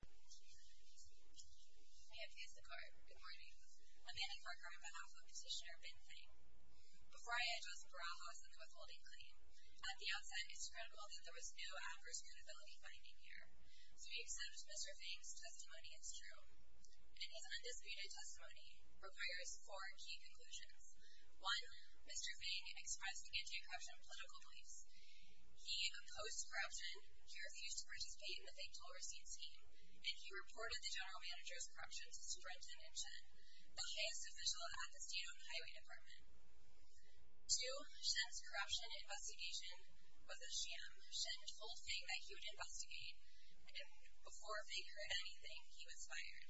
May it please the Court. Good morning. I'm Annie Parker on behalf of Petitioner Ben Feng. Before I address Barajas and the withholding claim, at the outset, it's critical that there was no adverse credibility finding here. So we accept Mr. Feng's testimony as true. And his undisputed testimony requires four key conclusions. One, Mr. Feng expressed anti-corruption political beliefs. He opposed corruption. One, he refused to participate in the fake tool receipt scheme. And he reported the general manager's corruption to Superintendent Shen, the highest official at the State-Owned Highway Department. Two, Shen's corruption investigation was a sham. Shen told Feng that he would investigate, and before Feng heard anything, he was fired.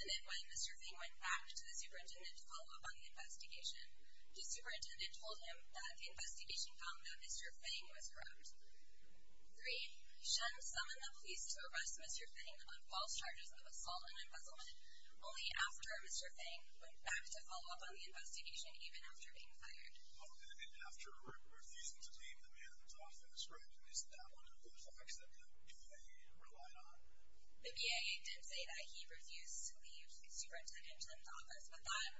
And then when Mr. Feng went back to the superintendent to follow up on the investigation, the superintendent told him that the investigation found that Mr. Feng was corrupt. Three, Shen summoned the police to arrest Mr. Feng on false charges of assault and embezzlement, only after Mr. Feng went back to follow up on the investigation, even after being fired. Okay, and after where he's detained the man in his office, right? And isn't that one of the facts that the BIA relied on? The BIA did say that he refused to leave Superintendent Chen's office, but that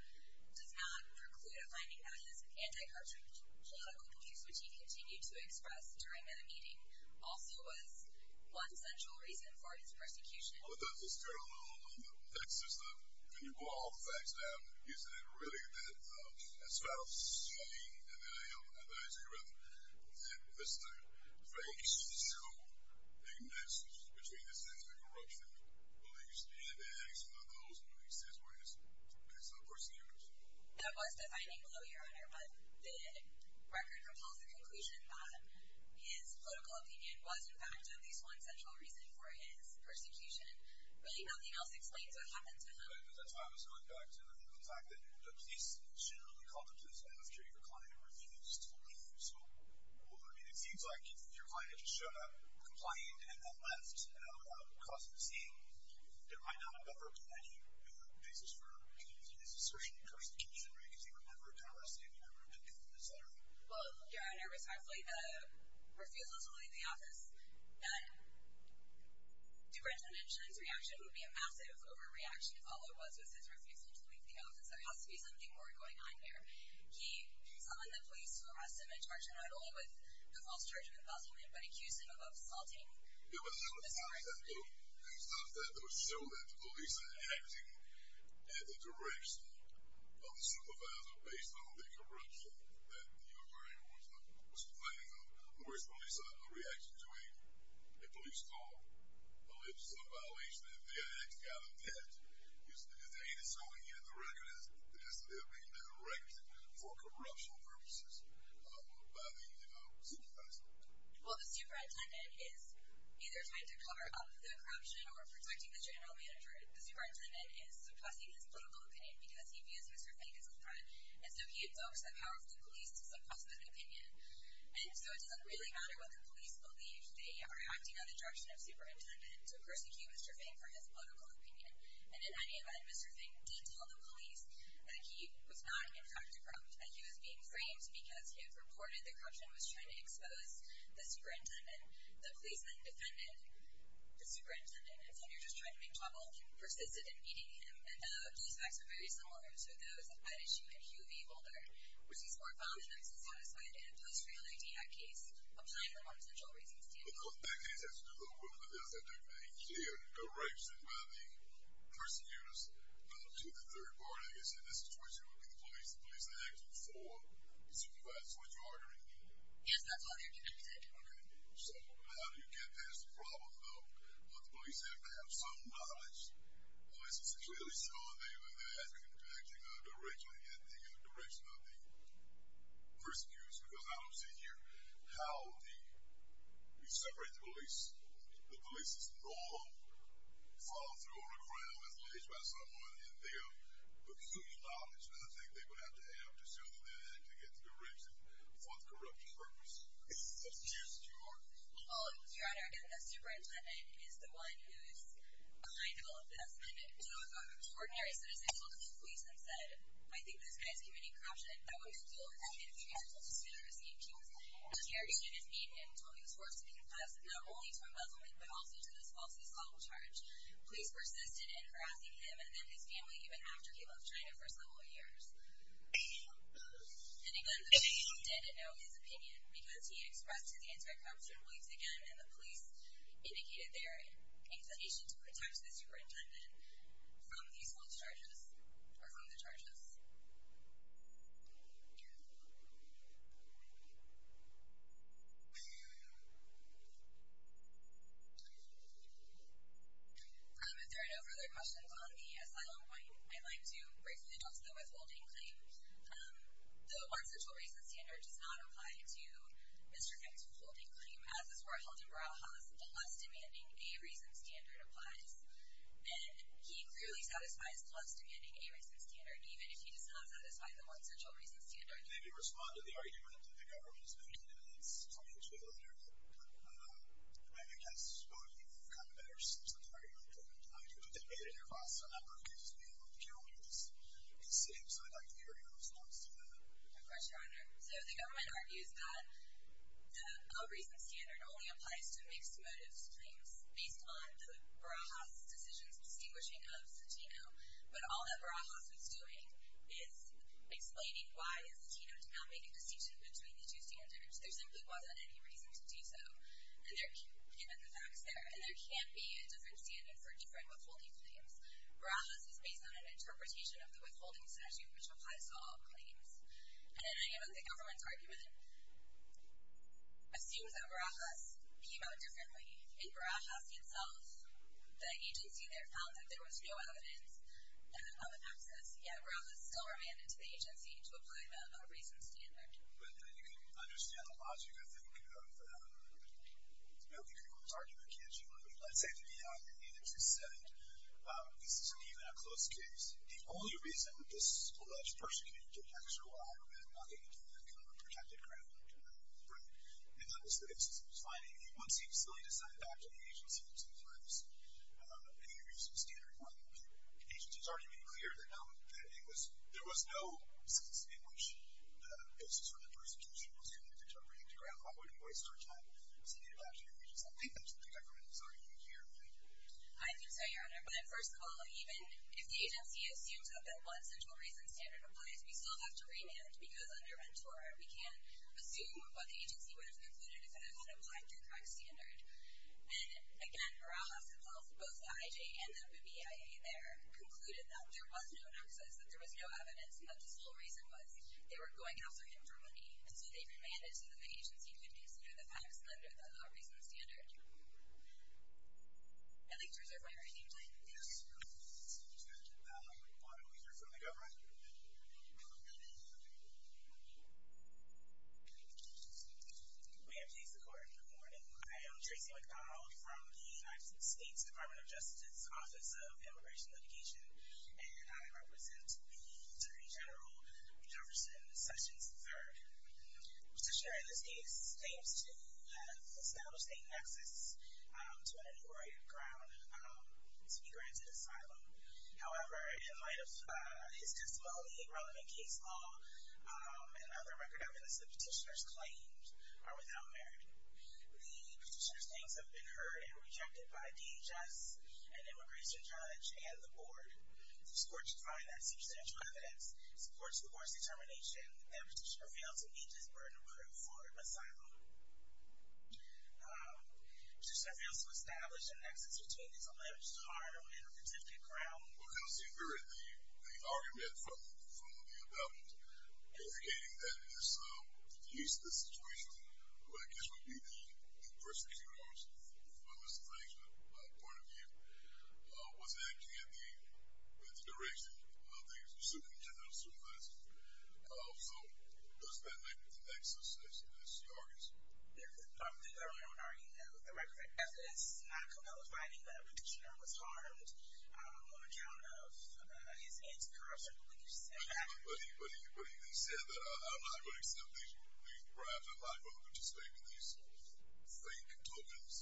does not preclude a finding that his anti-corruption political beliefs, which he continued to express during that meeting, also was one central reason for his persecution. Well, does this turn a little on the text system? Can you boil all the facts down? You said it really did. As far as Feng and the FBI's arrest, did Mr. Feng show a mix between his anti-corruption beliefs and the acts of those beliefs as well as his persecutors? That was the finding below, Your Honor, but the record propels the conclusion that his political opinion was, in fact, at least one central reason for his persecution. Really nothing else explains what happened to him. That's why I was going back to the fact that the police should only call the police after your client refused to leave. So, I mean, it seems like your client just showed up, complained, and then left without causing a scene. It might not have ever been any basis for his assertion of persecution, right? Because he would never have been arrested, he would never have been killed, etc. Well, Your Honor, respectfully, the refusal to leave the office, that Superintendent Chen's reaction would be a massive overreaction if all there was was his refusal to leave the office. There has to be something more going on here. He summoned the police to arrest him and charge him not only with the false charge of embezzlement, but accuse him of assaulting the superintendent. It was not that though. It was not that though. It showed that the police are acting in the direction of the supervisor based on the corruption that the attorney was complaining of. Where is the police's reaction to a police call? A police violation? If the attorney's got a debt? Is the detainee still in here? The record is that they're being directed for corruption purposes by the supervisor. Well, the superintendent is either trying to cover up the corruption or protecting the general manager. The superintendent is suppressing his political opinion because he views Mr. Fink as a threat, and so he abducts the power of the police to suppress his opinion. And so it doesn't really matter whether the police believe they are acting in the direction of the superintendent to persecute Mr. Fink for his political opinion. And in any event, Mr. Fink did tell the police that he was not, in fact, corrupt. He was being framed because he had reported the corruption and was trying to expose the superintendent. The police then defended the superintendent. And so he was just trying to make trouble. He persisted in beating him. And the police facts are very similar to those at issue in Hue v. Boulder, which is more violent, unsatisfied, and a post-reality act case applying for non-essential reasons. But those bad cases have to do with the fact that they're being directed by the persecutors to the third party. I guess in this situation it would be the police. The police are acting for the supervisor. That's what you are doing. Yes, that's what they're doing. Okay. So how do you get past the problem, though, that the police have to have some knowledge, unless it's really so that they're acting in the direction of the persecutors? Because I don't see here how you separate the police. The police is not followed through on a crime as alleged by someone in their peculiar knowledge. And I think they would have to add up to some of that to get the direction for the corruption purpose. That's the case that you are in. Well, Your Honor, again, the superintendent is the one who is behind all of this. And two extraordinary citizens told the police and said, I think this guy is committing corruption, and that we should deal with that. It's reasonable to say they're escaping punishment. The interrogation has been, and Tony was forced to confess, not only to embezzlement, but also to this false assault charge. Police persisted in harassing him and then his family even after he left China for several years. And again, the police did know his opinion because he expressed his anti-corruption beliefs again, and the police indicated their inclination to protect the superintendent from these false charges, or from the charges. If there are no further questions on the asylum claim, I'd like to briefly address the withholding claim. The one central reason standard does not apply to Mr. Nick's withholding claim as is where Heldenbrau has the less demanding a reason standard applies. And he clearly satisfies the less demanding a reason standard, even if he does not satisfy the one central reason standard. Maybe respond to the argument that the government is making, and it's coming to a letter that, I guess, both people have gotten better since that argument came out. I mean, you could debate it in your class, and I'm not going to accuse you of killing you. Just be safe, so I'd like to hear your response to that. Of course, Your Honor. So the government argues that a reason standard only applies to mixed motives claims based on the Barajas' decisions distinguishing of Satino. But all that Barajas was doing is explaining why Satino did not make a decision between the two standards. There simply wasn't any reason to do so. And there can't be a different standing for different withholding claims. Barajas is based on an interpretation of the withholding statute, which applies to all claims. And in any event, the government's argument assumes that Barajas came out differently. In Barajas himself, the agency there found that there was no evidence of an excess, yet Barajas still remanded to the agency to apply a reason standard. But you can understand the logic, I think, of the government's argument, can't you? But let's say, to be honest, even if you said this isn't even a close case, the only reason that this alleged person can get extra wire and not get into that kind of a protected ground, right, and that was the basis of his finding, once he was slowly decided back to the agency to apply this reason standard, well, the agency has already been clear that there was no basis in which the basis for that prosecution was connected to a protected ground. Why would he waste our time in saying that to the agency? I think that's what the government is arguing here. Thank you. I'm sorry, Your Honor, but first of all, even if the agency assumes that once a true reason standard applies, we still have to remand because under Ventura, we can't assume what the agency would have concluded if it had applied the correct standard. And, again, Barajas himself, both the IJ and the BIA there concluded that there was no excess, that there was no evidence, and that the sole reason was they were going after him for money. So they demanded that the agency consider the fact of slander the law reason standard. I'd like to reserve my right to explain. Yes, please. Do you want to hear from the government? Ma'am, please, the court. Good morning. I am Tracy McDonald from the United States Department of Justice's Office of Immigration Litigation, and I represent the Attorney General Jefferson Sessions III. The petitioner in this case seems to have established a nexus to an inaugurated ground to be granted asylum. However, in light of his dismally relevant case law and other record evidence, the petitioner's claims are without merit. The petitioner's claims have been heard and rejected by DHS, an immigration judge, and the board. This court should find that substantial evidence supports the court's determination that the petitioner failed to meet his burden of proof for asylum. Should the petitioner fail to establish a nexus between his alleged hard-earned and vindictive ground? Well, you can see very clearly the argument from the about-it, indicating that it is the use of the situation, what I guess would be the persecutor's, from a legislation point of view, was acting in the direction of the Supreme Judicial Service. So does that make the nexus as stark as it is? Yes. The government already knows the record of evidence is not compelling that the petitioner was harmed on account of his anti-corruption beliefs. But he said that I'm not going to accept these bribes. I'm not going to participate in these fake tokens.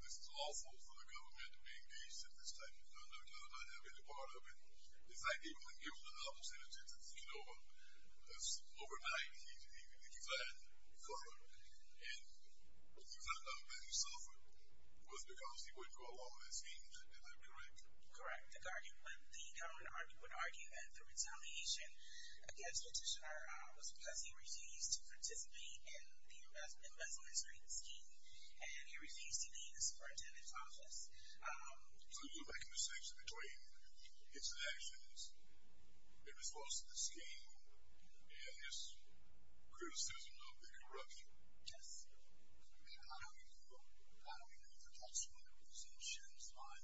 This is lawful for the government to be engaged in this type of conduct. I do not have any part of it. The fact that he wouldn't give up the opportunity to speak overnight, he said, and he said that he suffered, was because he wouldn't go along with the scheme. Is that correct? Correct. The government would argue that the retaliation against the petitioner was because he refused to participate in the investment scheme and he refused to be in the superintendent's office. So you're making the distinction between his actions in response to the scheme and his criticism of the corruption. Yes. How do you feel? How do you feel about some of the presumptions on,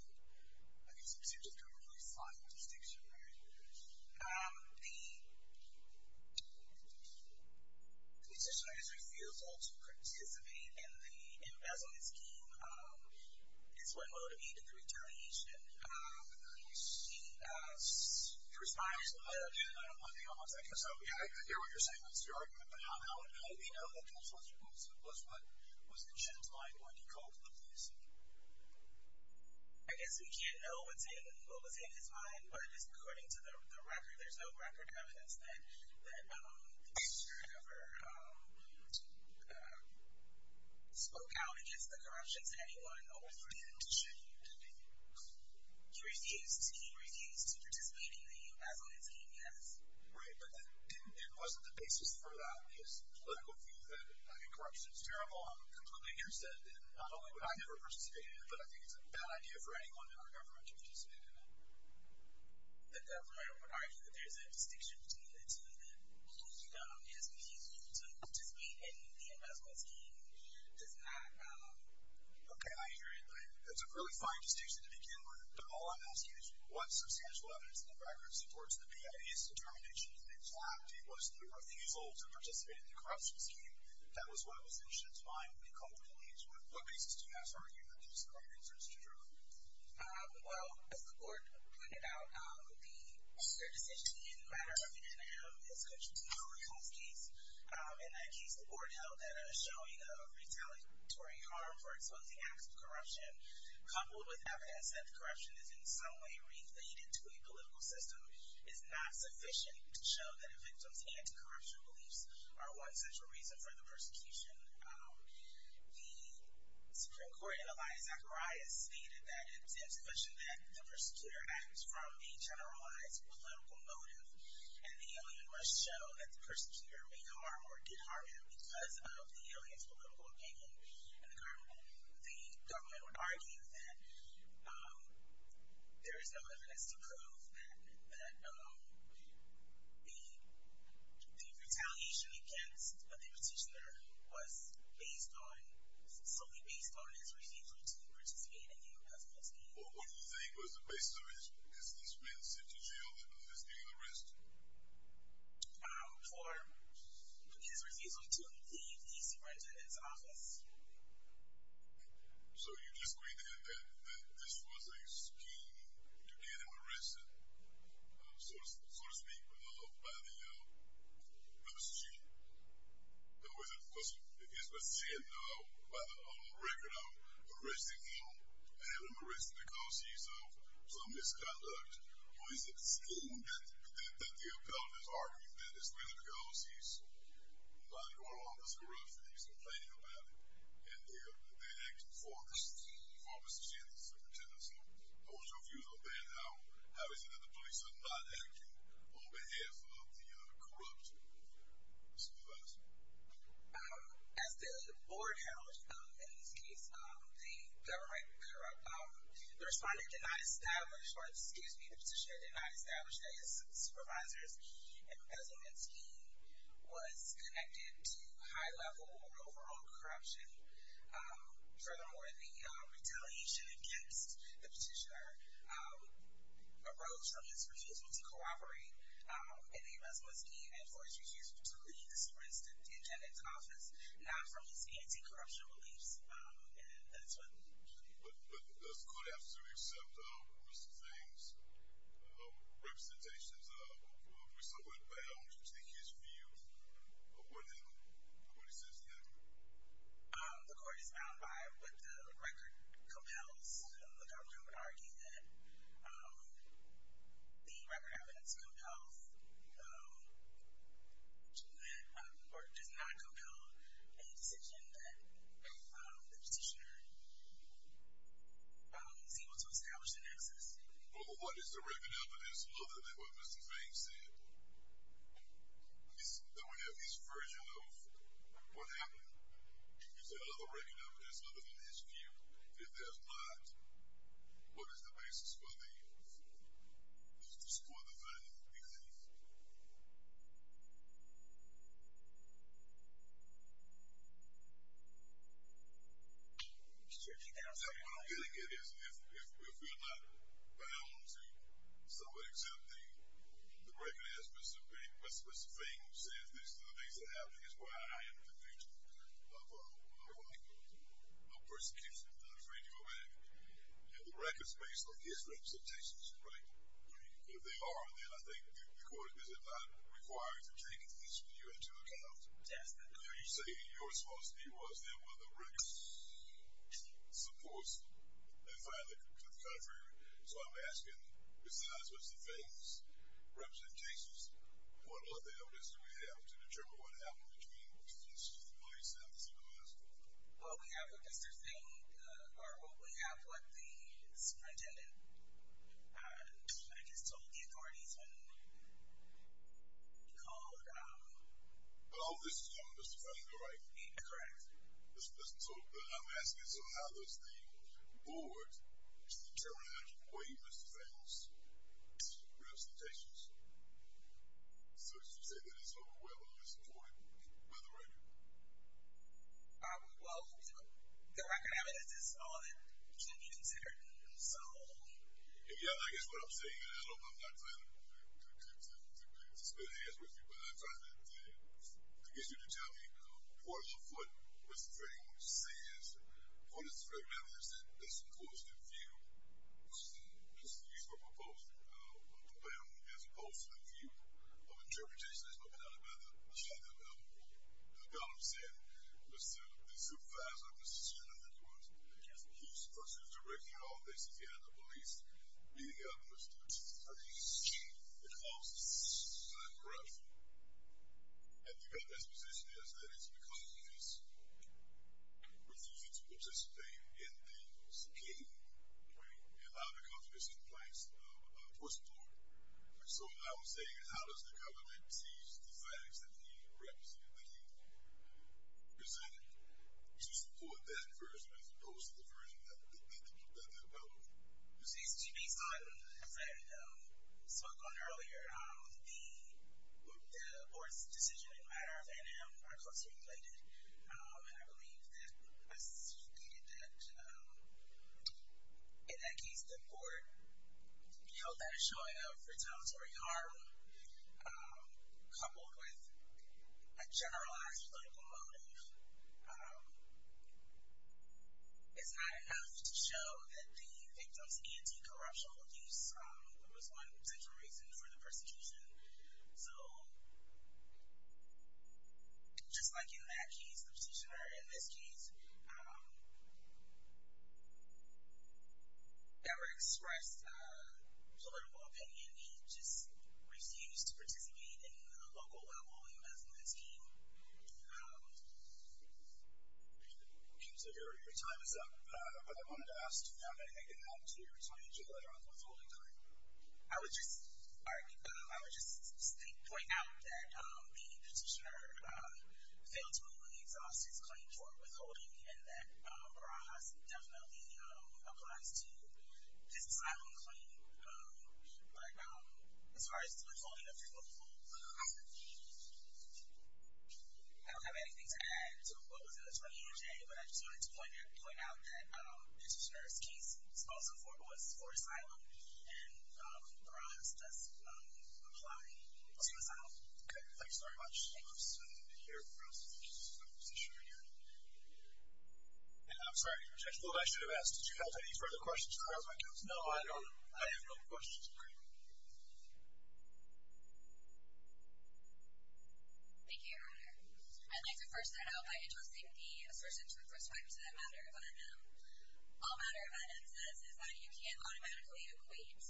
I guess, the Supreme Justice government's final decision? The petitioner has refused all to participate in the investment scheme. It's what motivated the retaliation. He responded to the letter. I don't want to be on the subject. I hear what you're saying. That's your argument. But how do we know that Councilor Wilson was what was in Jim's mind when he called the police? I guess we can't know what was in his mind, but according to the record, there's no record evidence that the petitioner ever spoke out against the corruption to anyone other than the petitioner. He refused. He refused to participate in the investment scheme, yes. Right, but it wasn't the basis for that, his political view that, I mean, corruption is terrible. I'm completely interested. Not only would I never participate in it, but I think it's a bad idea for anyone in our government to participate in it. The government would argue that there's a distinction between the two, that he has refused to participate in the investment scheme, and he does not. Okay, I hear you. That's a really fine distinction to begin with. But all I'm asking is, what substantial evidence in the record supports the PIA's determination that, in fact, it was the refusal to participate in the corruption scheme that was what was in Jim's mind when he called the police? What basis do you have for arguing that there's no evidence that it's true? Well, as the board pointed out, the third decision in the matter of the NIM is going to be the Marie Holmes case. In that case, the board held that a showing of retaliatory harm for exposing acts of corruption, coupled with evidence that corruption is in some way related to a political system, is not sufficient to show that a victim's anti-corruption beliefs are one central reason for the persecution. The Supreme Court in Elias Zacharias stated that it's insufficient that the persecutor acts from a generalized political motive, and the alien must show that the persecutor made harm or did harm him because of the alien's political opinion. And the government would argue that there is no evidence to prove that the retaliation against the petitioner was based on, solely based on his refusal to participate in the harassment scheme. Well, what do you think? Was it based on his being sent to jail for his being arrested? For his refusal to leave his office. So you disagree that this was a scheme to get him arrested, so to speak, by the, by the student? Was it, if he's been sent, by the record of arresting him, having him arrested because he's of some misconduct, or is it a scheme that the appellate is arguing that it's really because he's not in the office of corruption, he's complaining about it, and they're, they're acting for, for Mr. Sanders, the petitioner. So what's your view on that? How, how is it that the police are not acting on behalf of the corrupt? So who else? As the board held in this case, the government corrupt, the responder did not establish, or excuse me, the petitioner did not establish that his supervisor's embezzlement scheme was connected to high level or overall corruption. Furthermore, the retaliation against the petitioner arose from his refusal to cooperate in the embezzlement scheme. And of course, he refused to leave the superintendent's office, not from his anti-corruption beliefs. And that's what. But, but this could have to accept, uh, Mr. Zane's, uh, representations of, of Mr. Woodbound. What do you think his view of what he, of what he says he had? Um, the court is bound by what the record compels. The government would argue that, um, the record evidence compels, um, that, um, the court does not compel any decision that, um, the petitioner, um, is able to establish in excess. Well, what is the record evidence other than what Mr. Zane said? Is, don't we have his version of what happened? Is there other record evidence other than his view? If there's not, what is the basis for the, for the, for the value of the case? What I'm getting at is if, if, if we're not bound to someone accepting the record as Mr. Zane, Mr. Zane says, these are the things that are happening is why I am in the future of, of, of persecution. I'm not afraid to go back. Yeah. The record's based on his representations, right? If they are, then I think the court is not required to take you into account. You say your responsibility was then when the records supports and finally to the contrary. So I'm asking besides what's the famous representations, what other evidence do we have to determine what happened between Mr. Well, we have what Mr. Zane, or what we have, what the superintendent, I just told the authorities when he called. Oh, this is Mr. Zane, correct. So I'm asking. So how does the board, the terminology for you, Mr. Zane's representations. So as you say, that is overwhelmingly supported by the record. Well, the record evidence is all that can be considered. So, yeah, I guess what I'm saying, I don't, I'm not trying to, to, to split hands with you, but I'm trying to, to get you to tell me what, what Mr. Zane says, what is the record evidence that, that supports the view, just the use of a proposed, a plan as opposed to the view of interpretation. The facts that he represented, that he presented to support that version, as opposed to the version that, that, that they developed. You see, it's based on, as I, spoke on earlier, the, the board's decision in matters. And I'm, I'm closely related. And I believe that, as you stated that, in that case, the board held that a showing of retaliatory harm, coupled with a generalized political motive, is not enough to show that the victim's anti-corruptional use, there was one central reason for the persecution. So, just like in that case, the petitioner, in this case, never expressed a political opinion. He just refused to participate in a local level investment scheme. Okay, so your, your time is up. But I wanted to ask, do you have anything to add to your time, to your letter on the withholding claim? I would just, I, I would just point out that, the petitioner, failed to move on the exhaustive claim for withholding, and that Barajas definitely applies to his asylum claim. But, as far as the withholding of people, I don't have anything to add to what was in the 28-J, but I just wanted to point out that, the petitioner's case was also for, was for asylum, and Barajas does apply to asylum. Okay, thank you so very much. Thank you, sir. I'm here for us, just to make sure you're here. I'm sorry, I should have asked, did you have any further questions? No, I don't. I have no questions for you. Thank you, your honor. I'd like to first set out by addressing the assertions with respect to the matter of UNM. All matter of UNM says is that you can't automatically equate,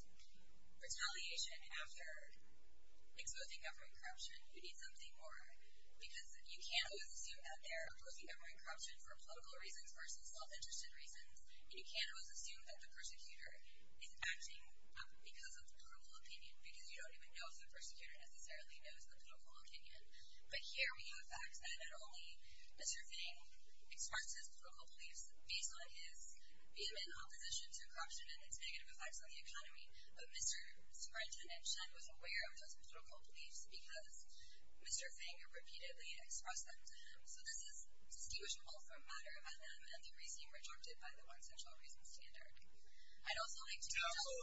retaliation after, exposing government corruption, you need something more. Because you can't always assume that they're exposing government corruption for political reasons, versus self-interested reasons. And you can't always assume that the persecutor, is acting because of the political opinion, because you don't even know if the persecutor necessarily knows the political opinion. But here we have facts that not only, Mr. Fang, expressed his political beliefs based on his, being in opposition to corruption and its negative effects on the economy, but Mr. Superintendent Chen was aware of those political beliefs because, Mr. Fang repeatedly expressed them to him. So this is distinguishable from matter of UNM, and the reasoning rejected by the one central reason standard. I'd also like to- Counsel,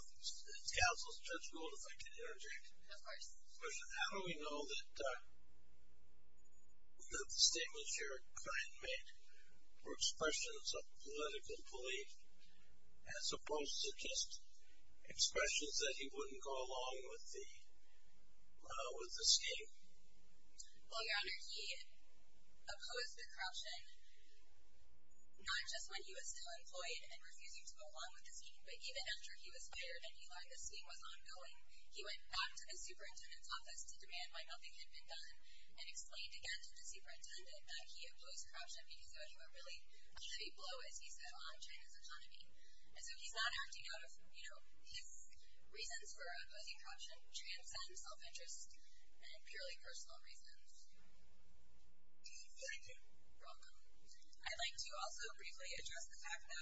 Counsel Judge Gould, if I can interject. Of course. How do we know that, the statements your client made, were expressions of political belief, as opposed to just, expressions that he wouldn't go along with the, with the scheme? Well your honor, he, opposed the corruption, not just when he was still employed, and refusing to go along with the scheme, but even after he was fired, and he learned the scheme was ongoing, he went back to the superintendent's office to demand why nothing had been done, and explained again to the superintendent, that he opposed corruption because of a really heavy blow, as he said, on China's economy. And so he's not acting out of, you know, his reasons for opposing corruption, transcends self-interest, and purely personal reasons. Thank you. You're welcome. I'd like to also briefly address the fact that,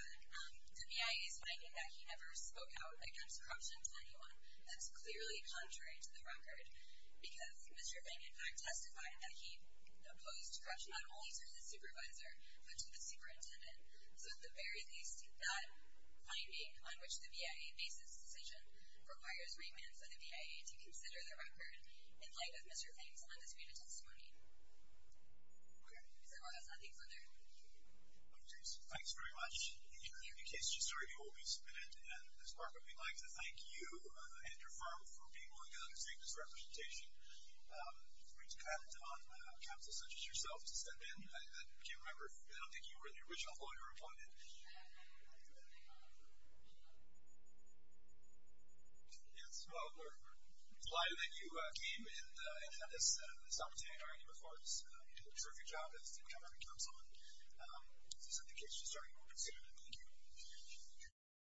the V.I.A.'s finding that he never spoke out against corruption to anyone, that's clearly contrary to the record. Because, Mr. Feng in fact testified that he, opposed corruption not only to his supervisor, but to the superintendent. So at the very least, that finding, on which the V.I.A. bases this decision, requires remand for the V.I.A. to consider the record, in light of Mr. Feng's undisputed testimony. Okay. Is there one else? I think so there. Okay. Thanks very much. In case you just heard, you will be submitted. And Ms. Parker, we'd like to thank you, and your firm, for being willing to undertake this representation. For you to come on a council such as yourself, to step in. I can't remember, I don't think you were the original lawyer appointed. Yes, well, we're delighted that you came, and had this opportunity. And of course, you did a terrific job as superintendent of the council. So in case you just heard, you will be submitted. Thank you.